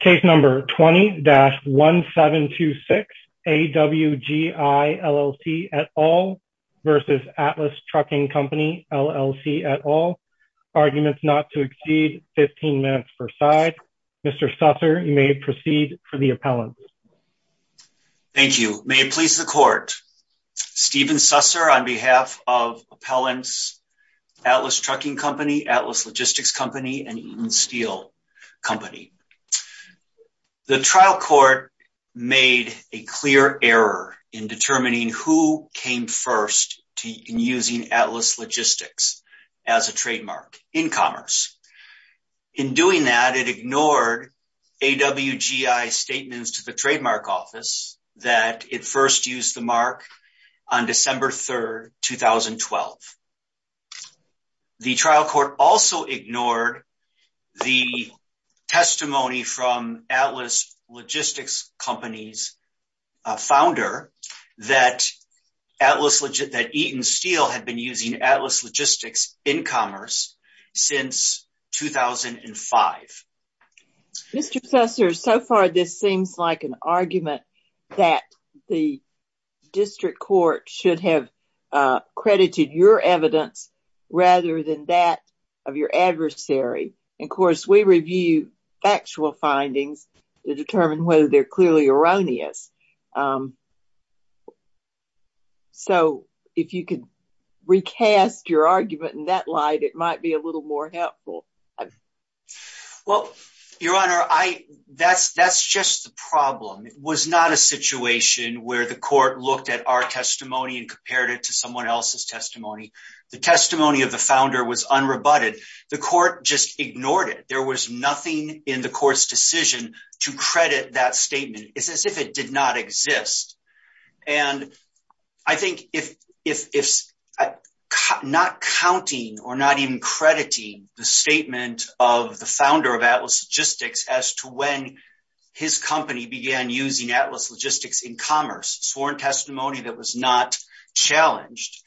Case number 20-1726 AWGI LLC et al. versus Atlas Trucking Company LLC et al. Arguments not to exceed 15 minutes per side. Mr. Susser, you may proceed for the appellant. Thank you. May it please the court. Stephen Susser on behalf of Appellants, Atlas Trucking Company, Atlas Logistics Company, and Eaton Steel Company. The trial court made a clear error in determining who came first in using Atlas Logistics as a trademark in commerce. In doing that, it ignored AWGI's statements to the trademark office that it first used the mark on December 3, 2012. The trial court also ignored the testimony from Atlas Logistics Company's founder that Eaton Steel had been using Atlas Logistics in commerce since 2005. Mr. Susser, so far this seems like an argument that the district court should have credited your evidence rather than that of your adversary. Of course, we review factual findings to determine whether they're clearly erroneous. So, if you could recast your argument in that light, it might be a little more helpful. Well, Your Honor, that's just the problem. It was not a situation where the court looked at our testimony and compared it to someone else's testimony. The testimony of the founder was unrebutted. The court just ignored it. There was nothing in the court's decision to credit that statement. It's as if it did not exist. And I think if not counting or not even crediting the statement of the founder of Atlas Logistics as to when his company began using Atlas Logistics in commerce, sworn testimony that was not challenged,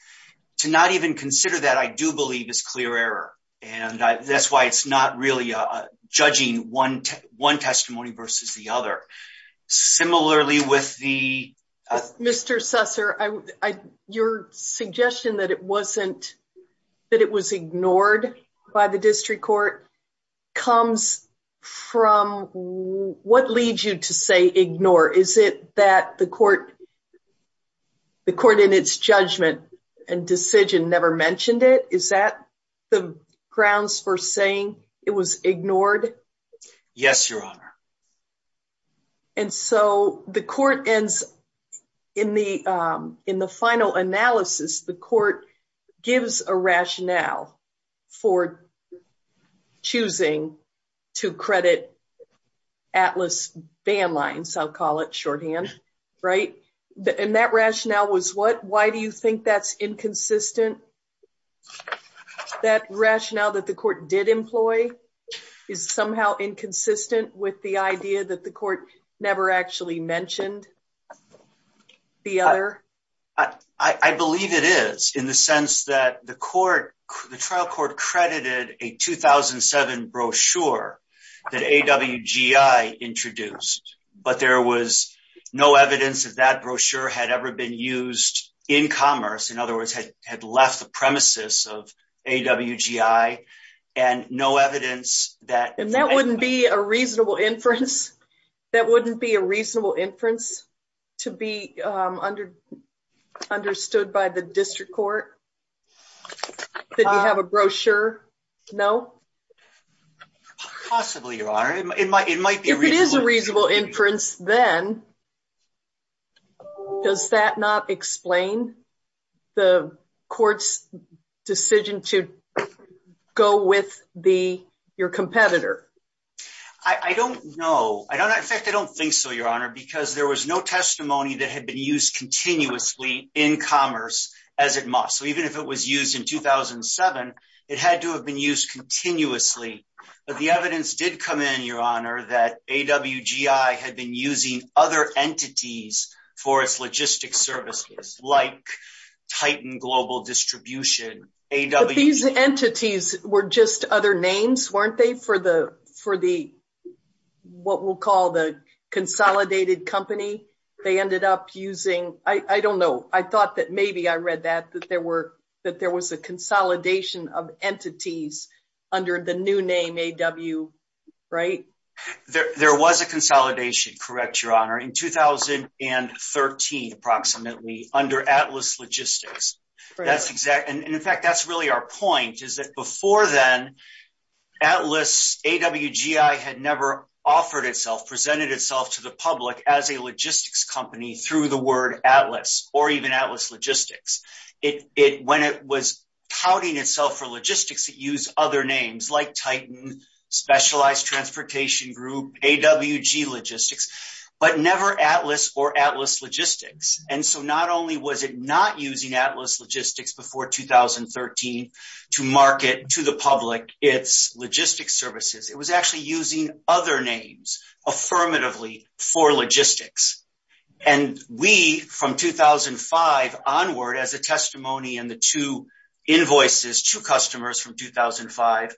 to not even consider that I do believe is clear error. And that's why it's not really judging one testimony versus the other. Mr. Susser, your suggestion that it was ignored by the district court comes from what leads you to say ignore. Is it that the court in its judgment and decision never mentioned it? Is that the grounds for saying it was ignored? Yes, Your Honor. And so the court ends in the final analysis, the court gives a rationale for choosing to credit Atlas Bandlines, I'll call it shorthand, right? And that rationale was what? Why do you think that's inconsistent? That rationale that the court did employ is somehow inconsistent with the idea that the court never actually mentioned the other? I believe it is in the sense that the trial court credited a 2007 brochure that AWGI introduced, but there was no evidence that that brochure had ever been used in commerce. In other words, had left the premises of AWGI and no evidence that... And that wouldn't be a reasonable inference? That wouldn't be a reasonable inference to be understood by the district court? Did you have a brochure? No? Possibly, Your Honor. It might be... If it is a reasonable inference, then does that not explain the court's decision to go with your competitor? I don't know. In fact, I don't think so, Your Honor, because there was no testimony that had been used continuously in commerce as it must. So even if it was used in 2007, it had to have been used continuously. But the evidence did come in, Your Honor, that AWGI had been using other entities for its logistic services like Titan Global Distribution, AWGI... But these entities were just other names, weren't they? For what we'll call the consolidated company, they ended up using... I don't know. I thought that maybe I read that, that there was a consolidation of under the new name AW... Right? There was a consolidation, correct, Your Honor, in 2013, approximately, under Atlas Logistics. That's exactly... And in fact, that's really our point, is that before then, AWGI had never offered itself, presented itself to the public as a logistics company through the word Atlas or even Atlas Logistics. When it was touting itself for logistics, it used other names like Titan, Specialized Transportation Group, AWG Logistics, but never Atlas or Atlas Logistics. And so not only was it not using Atlas Logistics before 2013 to market to the public its logistics services, it was actually using other names affirmatively for logistics. And we, from 2005 onward, as a testimony and the two invoices to customers from 2005,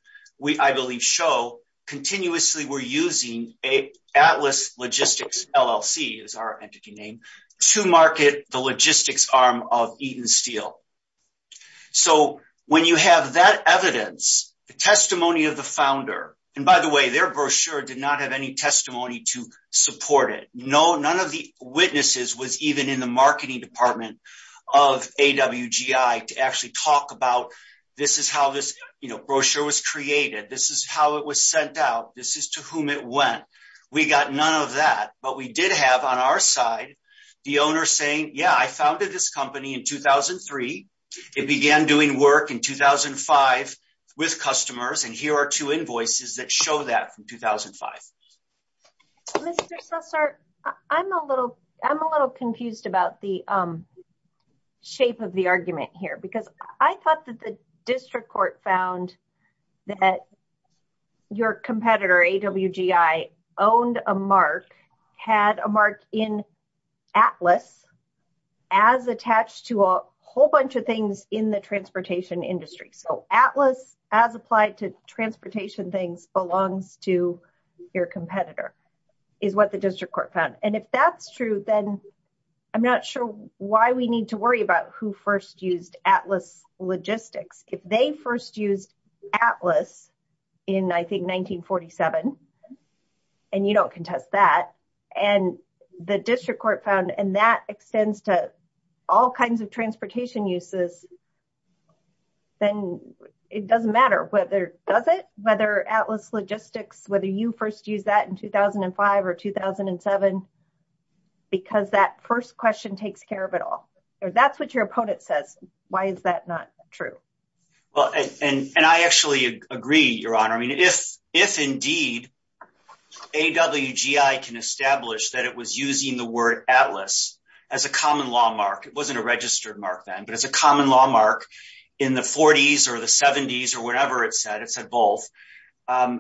I believe show, continuously were using an Atlas Logistics LLC, is our entity name, to market the logistics arm of Eaton Steel. So when you have that evidence, the testimony of the founder... And by the way, their brochure did not have any testimony to support it. None of the witnesses was even in the marketing department of AWGI to actually talk about, this is how this brochure was created. This is how it was sent out. This is to whom it went. We got none of that, but we did have on our side, the owner saying, yeah, I founded this company in 2003. It began doing work in 2005 with customers. And here are two invoices that show that from 2005. Mr. Susser, I'm a little, I'm a little confused about the shape of the argument here, because I thought that the district court found that your competitor, AWGI, owned a mark, had a mark in Atlas as attached to a whole bunch of things in the transportation industry. So Atlas, as applied to transportation things, belongs to your competitor, is what the district court found. And if that's true, then I'm not sure why we need to worry about who first used Atlas Logistics. If they first used Atlas in, I think, 1947, and you don't contest that, and the district court found, and that extends to all kinds of transportation uses, then it doesn't matter whether, does it? Whether Atlas Logistics, whether you first used that in 2005 or 2007, because that first question takes care of it all. That's what your opponent says. Why is that not true? Well, and I actually agree, Your Honor. I mean, if indeed, AWGI can establish that it was using the word Atlas as a common law mark, it wasn't a registered mark then, but as a common law mark in the 40s or the 70s or whatever it said, it said both,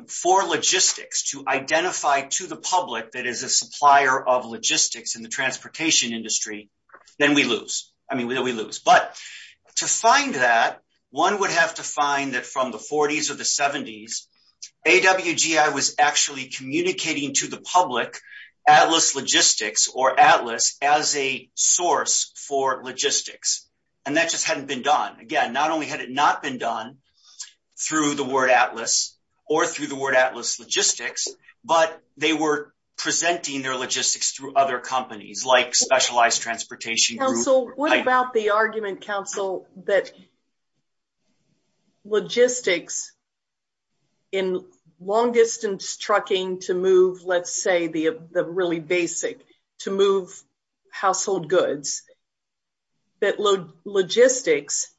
for logistics to identify to the public that is a supplier of logistics in the transportation industry, then we lose. I mean, we lose. But to find that, one would have to find that from the 40s or the 70s, AWGI was actually communicating to the public Atlas Logistics or Atlas as a source for logistics, and that just hadn't been done. Again, not only had it not been done through the word Atlas or through the word Atlas Logistics, but they were presenting their logistics through other companies like Specialized Transportation Group. What about the argument, counsel, that logistics in long-distance trucking to move, let's say, the really basic, to move household goods, that logistics,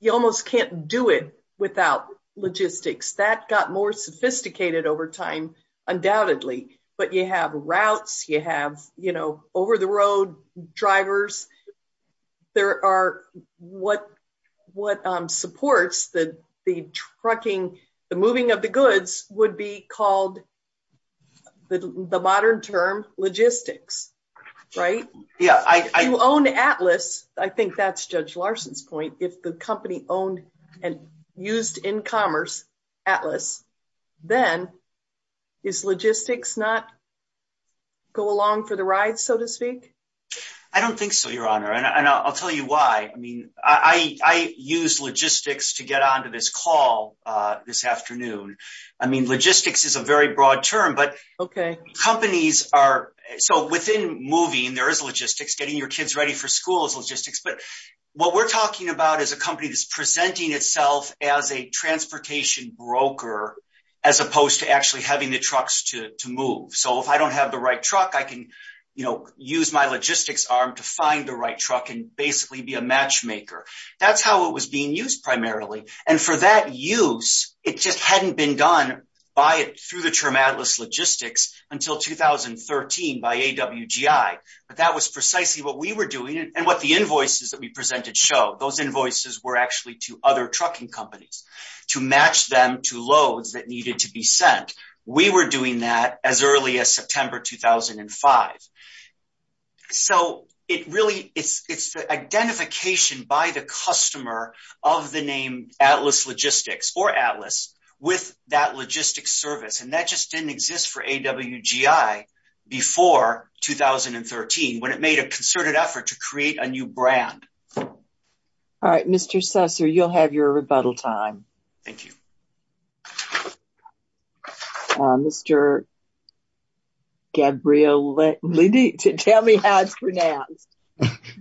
you almost can't do it without logistics. That got more sophisticated over time, undoubtedly. But you have routes, you have over-the-road drivers. There are what supports the trucking, the moving of the goods would be called the modern term logistics, right? If you own Atlas, I think that's Judge Larson's point, if the company owned and used in commerce Atlas, then is logistics not go along for the ride, so to speak? I don't think so, Your Honor. And I'll tell you why. I mean, I use logistics to get onto this call this afternoon. I mean, logistics is a very broad term, but companies are, so within moving, there is logistics, getting your kids ready for school but what we're talking about is a company that's presenting itself as a transportation broker, as opposed to actually having the trucks to move. So if I don't have the right truck, I can use my logistics arm to find the right truck and basically be a matchmaker. That's how it was being used primarily. And for that use, it just hadn't been done by it through the term Atlas Logistics until 2013 by AWGI. But that was precisely what we were doing and what the invoices that we presented show. Those invoices were actually to other trucking companies to match them to loads that needed to be sent. We were doing that as early as September, 2005. So it really, it's the identification by the customer of the name Atlas Logistics or Atlas with that logistics service. And that just didn't exist for AWGI before 2013 when it made a concerted effort to create a new brand. All right, Mr. Susser, you'll have your rebuttal time. Thank you. Mr. Gabrielides, tell me how it's pronounced.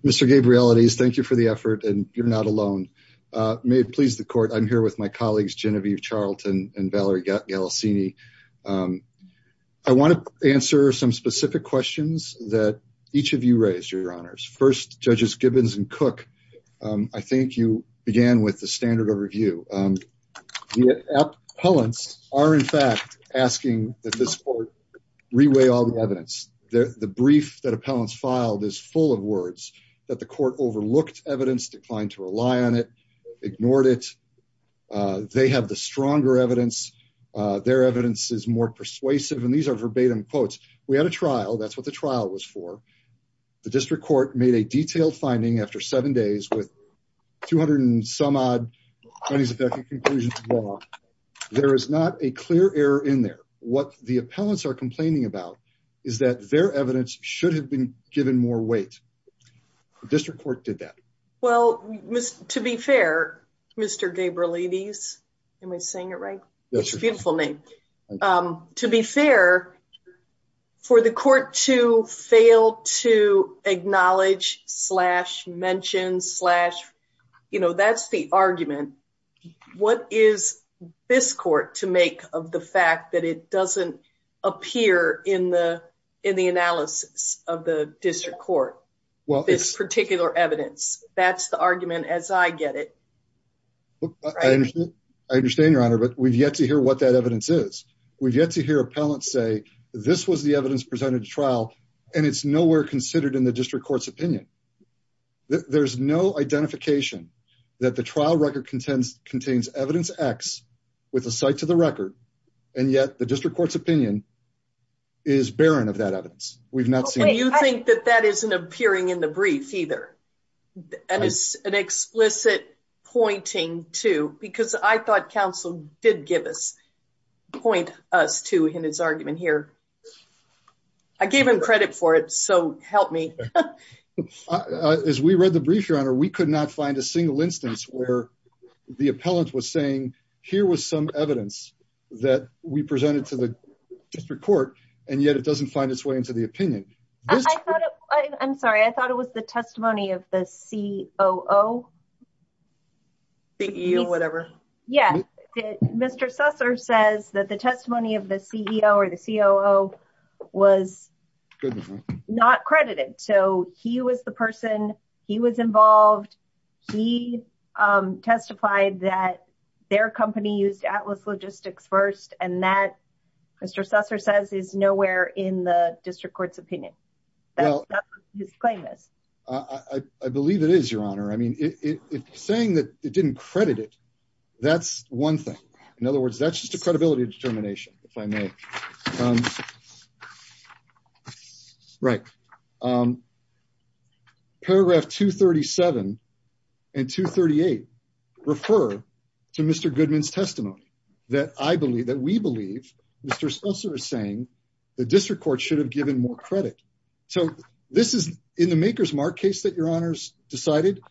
Mr. Gabrielides, thank you for the effort and you're not alone. May it please the court, I'm here with my colleagues Genevieve Charlton and Valerie Galassini. I want to answer some specific questions that each of you raised, Your Honors. First, Judges Gibbons and Cook, I think you began with the standard of review. The appellants are in fact asking that this court reweigh all the evidence. The brief that appellants filed is full of words that the court overlooked evidence, declined to rely on it, ignored it. They have the stronger evidence. Their evidence is more persuasive and these are verbatim quotes. We had a trial, that's what the trial was for. The district court made a detailed finding after seven days with 200 and some odd money's effective conclusions. There is not a clear error in there. What the appellants are complaining about is that their evidence should have been given more weight. The district court did that. Well, to be fair, Mr. Gabrielides, am I saying it right? It's a beautiful name. To be fair, for the court to fail to acknowledge slash mention slash, you know, that's the argument. What is this court to make of the fact that it doesn't appear in the analysis of the district court? Well, this particular evidence, that's the argument as I get it. I understand your honor, but we've yet to hear what that evidence is. We've yet to hear appellants say this was the evidence presented to trial and it's nowhere considered in the district court's opinion. There's no identification that the trial record contains evidence X with a site to the record and yet the district court's opinion is barren of that evidence. We've not seen it. I don't think that that isn't appearing in the brief either. That is an explicit pointing to, because I thought counsel did give us, point us to in his argument here. I gave him credit for it, so help me. As we read the brief, your honor, we could not find a single instance where the appellant was saying here was some evidence that we presented to the district court. And yet it doesn't find its way into the opinion. I'm sorry. I thought it was the testimony of the CEO, CEO, whatever. Yeah. Mr. Susser says that the testimony of the CEO or the COO was not credited. So he was the person he was involved. He testified that their company used Atlas Logistics first. And that Mr. Susser says is nowhere in the district court's opinion. I believe it is your honor. I mean, it's saying that it didn't credit it. That's one thing. In other words, that's just a credibility determination if I may. Right. Paragraph 237 and 238 refer to Mr. Goodman's testimony that we believe Mr. Susser is saying the district court should have given more credit. So this is in the maker's mark case that your honors decided.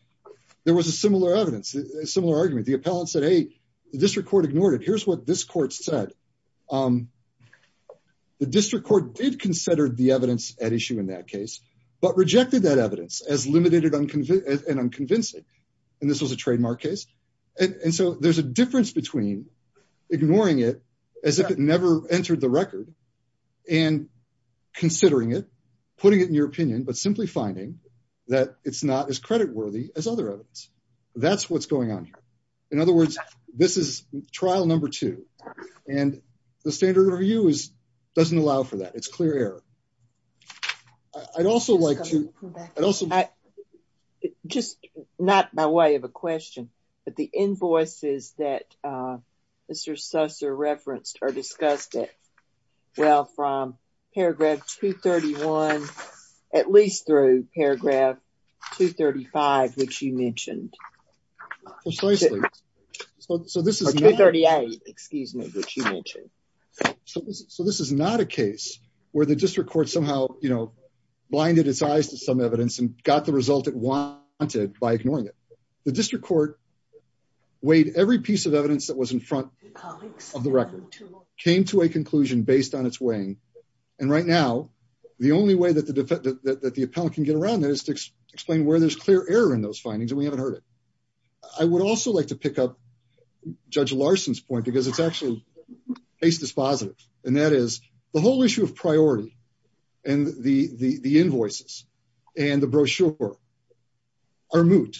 There was a similar argument. The appellant said, hey, the district ignored it. Here's what this court said. The district court did consider the evidence at issue in that case, but rejected that evidence as limited and unconvincing. And this was a trademark case. And so there's a difference between ignoring it as if it never entered the record and considering it, putting it in your opinion, but simply finding that it's not as trial number two. And the standard review is doesn't allow for that. It's clear error. I'd also like to also just not by way of a question, but the invoices that Mr. Susser referenced or discussed it well from paragraph 231, at least through paragraph 235, which you mentioned. So this is not a case where the district court somehow, you know, blinded its eyes to some evidence and got the result it wanted by ignoring it. The district court weighed every piece of evidence that was in front of the record, came to a conclusion based on its weighing. And right now, the only way that the defendant, that the appellant can get around that is to explain where there's clear error in those findings. And we haven't heard it. I would also like to pick up Judge Larson's point because it's actually case dispositive. And that is the whole issue of priority and the invoices and the brochure are moot.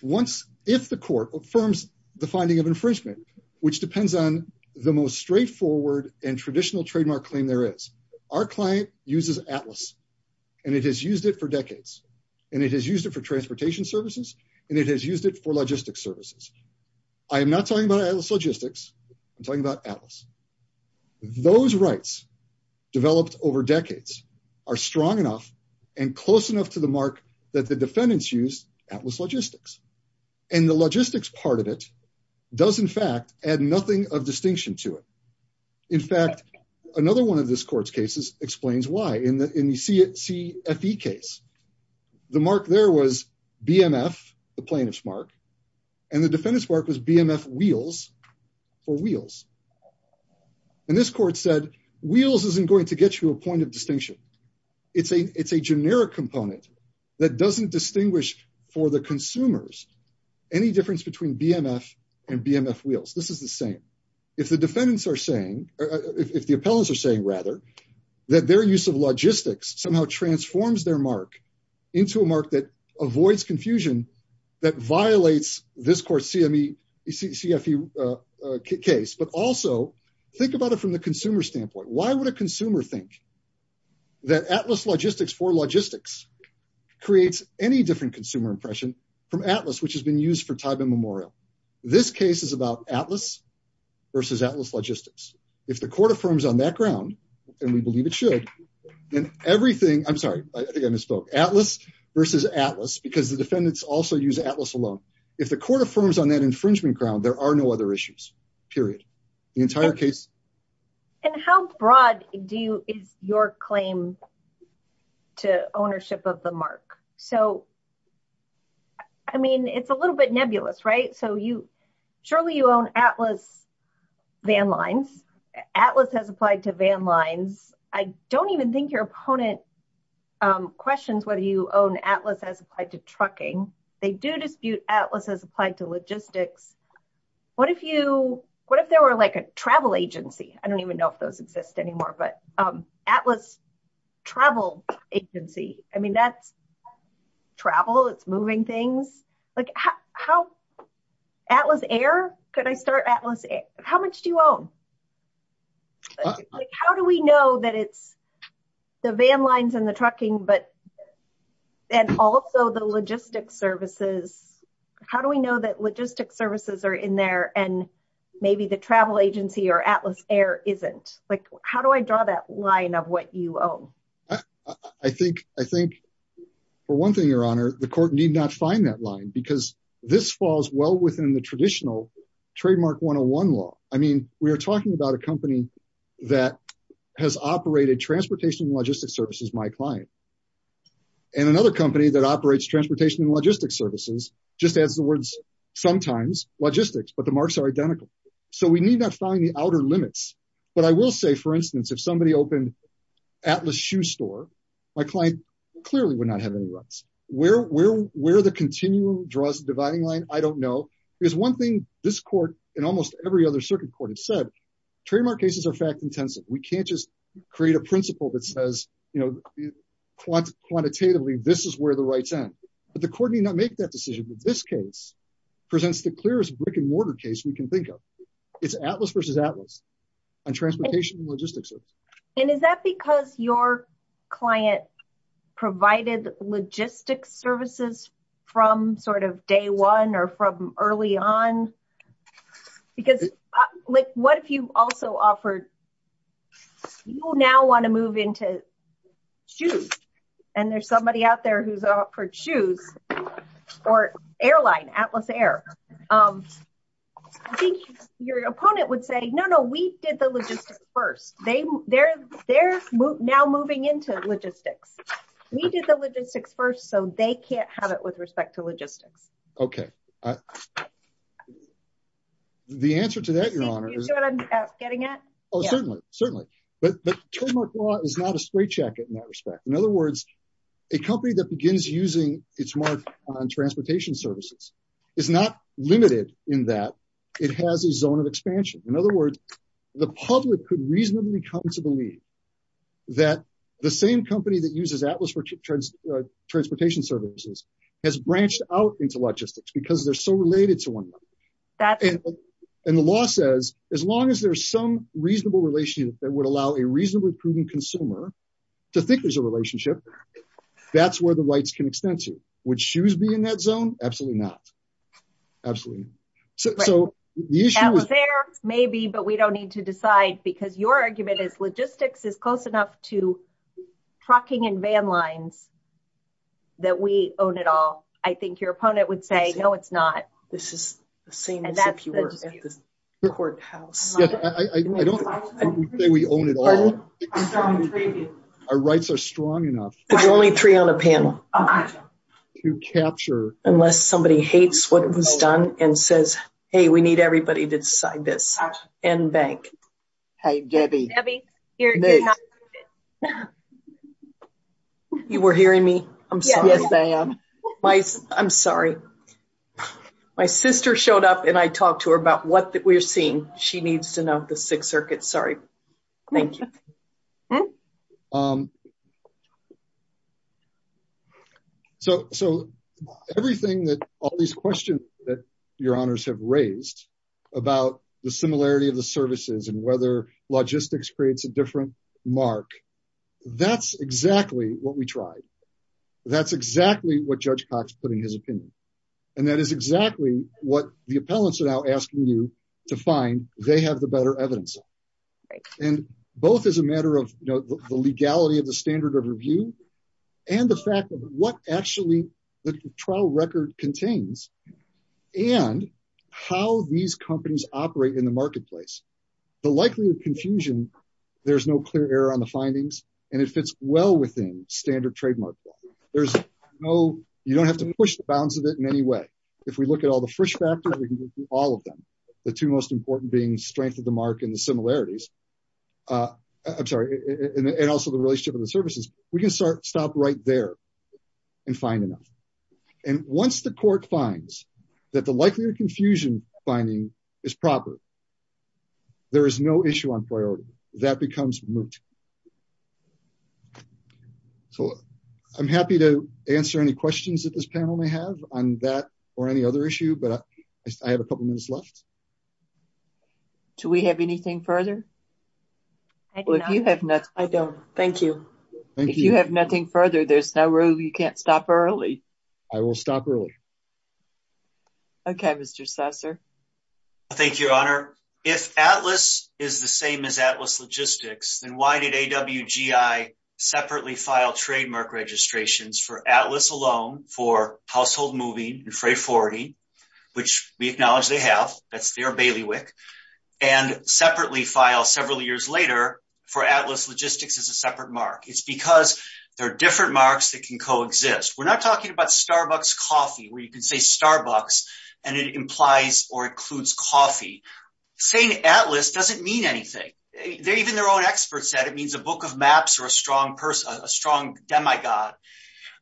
Once, if the court affirms the finding of infringement, which depends on the most straightforward and traditional trademark claim there is. Our client uses Atlas and it has used it for decades and it has used it for transportation services and it has used it for logistics services. I am not talking about Atlas Logistics. I'm talking about Atlas. Those rights developed over decades are strong enough and close enough to the mark that the defendants use Atlas Logistics. And the logistics part of it does in fact add nothing of distinction to it. In fact, another one of this court's cases explains why. In the CFE case, the mark there was BMF, the plaintiff's mark, and the defendant's mark was BMF wheels for wheels. And this court said, wheels isn't going to get you a point of distinction. It's a generic component that doesn't distinguish for the consumers any difference between BMF and BMF wheels. This is the same. If the defendants are saying, if the appellants are saying rather, that their use of logistics somehow transforms their mark into a mark that avoids confusion, that violates this court's CME, CFE case, but also think about it from the consumer standpoint. Why would a consumer think that Atlas Logistics for logistics creates any different consumer impression from Atlas, which has been used for time immemorial? This case is about Atlas versus Atlas Logistics. If the court affirms on that ground, and we believe it should, then everything, I'm sorry, I think I misspoke, Atlas versus Atlas, because the defendants also use Atlas alone. If the court affirms on that infringement ground, there are no other issues, period. The entire case. And how broad is your claim to ownership of the mark? So I mean, it's a little bit nebulous, right? So you, surely you own Atlas van lines, Atlas has applied to van lines. I don't even think your opponent questions whether you own Atlas as applied to trucking. They do dispute Atlas as applied to logistics. What if you, what if there were like a travel agency? I don't even know if those exist anymore, but Atlas travel agency. I mean, that's travel, it's moving things like how Atlas Air, could I start Atlas? How much do you own? How do we know that it's the van lines and the trucking, but then also the logistic services? How do we know that logistic services are in there? And what you owe? I think, I think for one thing, your honor, the court need not find that line because this falls well within the traditional trademark 101 law. I mean, we are talking about a company that has operated transportation, logistic services, my client, and another company that operates transportation and logistics services, just as the words, sometimes logistics, but the marks are identical. So we need not find the outer limits. But I will say, for instance, if somebody opened Atlas shoe store, my client clearly would not have any rights where, where, where the continuum draws the dividing line. I don't know, because one thing this court and almost every other circuit court has said, trademark cases are fact intensive. We can't just create a principle that says, you know, quantitatively, this is where the rights end, but the court need not make that decision. But this case presents the clearest brick and mortar case we can think of. It's Atlas versus Atlas and transportation logistics. And is that because your client provided logistics services from sort of day one or from early on? Because like, what if you also offered, you will now want to move into shoes. And there's somebody out there who's offered shoes, or airline Atlas Air. Your opponent would say no, no, we did the logistics first, they they're, they're now moving into logistics. We did the logistics first, so they can't have it with respect to logistics. Okay. The answer to that, Your Honor, I'm getting it. Oh, certainly, certainly. But trademark law is a straitjacket in that respect. In other words, a company that begins using its mark on transportation services is not limited in that it has a zone of expansion. In other words, the public could reasonably come to believe that the same company that uses Atlas for transportation services has branched out into logistics, because they're so related to one another. And the law says, as long as there's some reasonable relationship that would allow a reasonably prudent consumer to think there's a relationship, that's where the rights can extend to. Would shoes be in that zone? Absolutely not. Absolutely. So the issue is... Atlas Air, maybe, but we don't need to decide because your argument is logistics is close enough to trucking and van lines that we own it all. I think your opponent would say, no, it's not. This is the same as if you were at the courthouse. I don't think we own it all. Our rights are strong enough. There's only three on a panel. To capture... Unless somebody hates what was done and says, hey, we need everybody to decide this, and bank. Hey, Debbie. You were hearing me. I'm sorry. I'm sorry. My sister showed up and I talked to her about what we're seeing. She needs to know the Sixth Circuit. Sorry. Thank you. So everything that all these questions that your honors have raised about the similarity of the logistics creates a different mark. That's exactly what we tried. That's exactly what Judge Cox put in his opinion. And that is exactly what the appellants are now asking you to find. They have the better evidence. And both as a matter of the legality of the standard of review and the fact of what actually the trial record contains and how these companies operate in the marketplace. The likelihood of confusion, there's no clear error on the findings. And it fits well within standard trademark law. You don't have to push the bounds of it in any way. If we look at all the first factors, we can do all of them. The two most important being strength of the mark and the similarities. I'm sorry. And also the relationship of the services. We can start stop right there and find enough. And once the court finds that the likelihood of confusion finding is proper, there is no issue on priority. That becomes moot. So I'm happy to answer any questions that this panel may have on that or any other issue, but I have a couple minutes left. Do we have anything further? I don't. Thank you. If you have nothing further, there's no room. You can't stop early. I will stop early. Okay, Mr. Sasser. Thank you, Your Honor. If Atlas is the same as Atlas Logistics, then why did AWGI separately file trademark registrations for Atlas alone for household moving and freight forwarding, which we acknowledge they have, that's their bailiwick, and separately file several years later for Atlas Logistics as a separate mark. It's because there are different marks that can exist. We're not talking about Starbucks coffee, where you can say Starbucks and it implies or includes coffee. Saying Atlas doesn't mean anything. Even their own experts said it means a book of maps or a strong person, a strong demigod,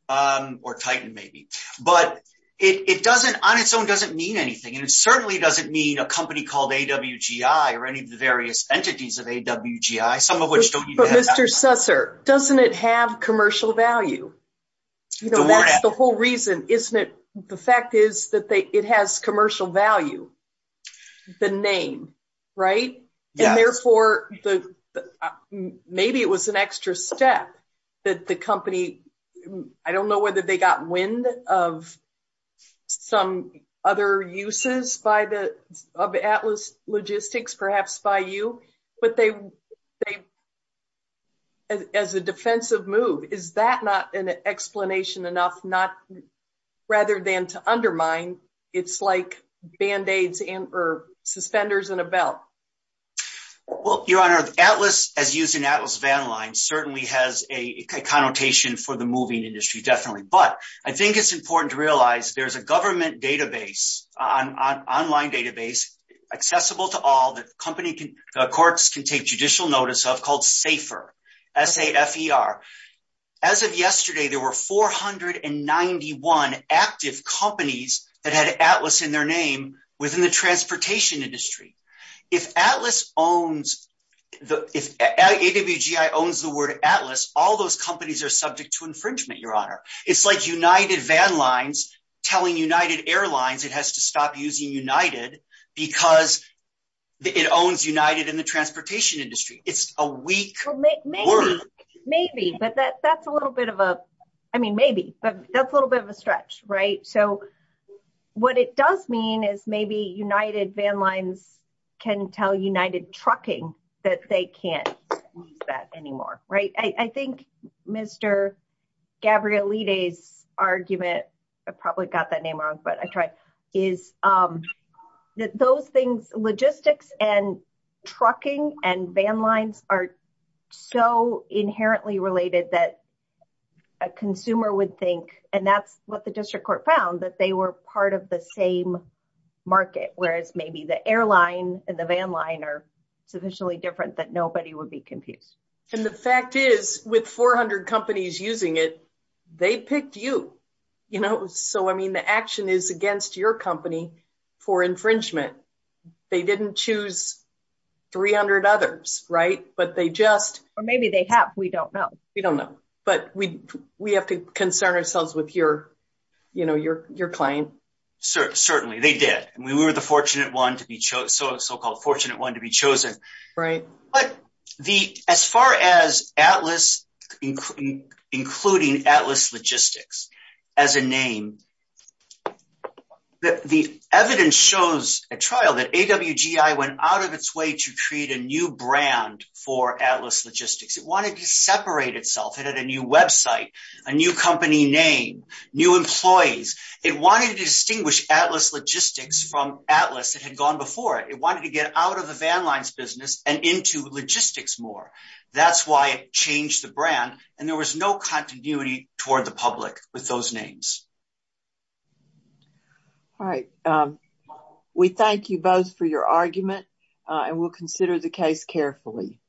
or titan, maybe. But it doesn't, on its own, doesn't mean anything. And it certainly doesn't mean a company called AWGI or any of the various entities of AWGI, some of which don't need that. Mr. Sasser, doesn't it have commercial value? That's the whole reason, isn't it? The fact is that it has commercial value, the name, right? And therefore, maybe it was an extra step that the company, I don't know whether they got wind of some other uses of Atlas Logistics, perhaps by you, but they, as a defensive move, is that not an explanation enough, rather than to undermine, it's like band-aids or suspenders and a belt? Well, Your Honor, Atlas, as used in Atlas Van Lines, certainly has a connotation for the moving industry, definitely. But I think it's important to realize there's a government database, online database, accessible to all, that courts can take judicial notice of, called SAFER, S-A-F-E-R. As of yesterday, there were 491 active companies that had Atlas in their name within the transportation industry. If AWGI owns the word Atlas, all those companies are subject to stop using United because it owns United in the transportation industry. It's a weak word. Maybe, but that's a little bit of a, I mean, maybe, but that's a little bit of a stretch, right? So, what it does mean is maybe United Van Lines can tell United Trucking that they can't use that anymore, right? I think Mr. Gabriel Lide's argument, I probably got that name wrong, but I tried, is that those things, logistics and trucking and van lines are so inherently related that a consumer would think, and that's what the district court found, that they were part of the same market, whereas maybe the airline and the van line are sufficiently different that nobody would be confused. And the fact is, with 400 companies using it, they picked you. So, I mean, action is against your company for infringement. They didn't choose 300 others, right? But they just... Or maybe they have, we don't know. We don't know, but we have to concern ourselves with your claim. Certainly, they did. And we were the so-called fortunate one to be chosen. But as far as Atlas, including Atlas Logistics as a name, the evidence shows at trial that AWGI went out of its way to create a new brand for Atlas Logistics. It wanted to separate itself. It had a new website, a new company name, new employees. It wanted to distinguish Atlas Logistics from Atlas that had gone before it. It wanted to get out of the van lines business and into logistics more. That's why it changed the brand, and there was no continuity toward the public with those names. All right. We thank you both for your argument, and we'll consider the case carefully.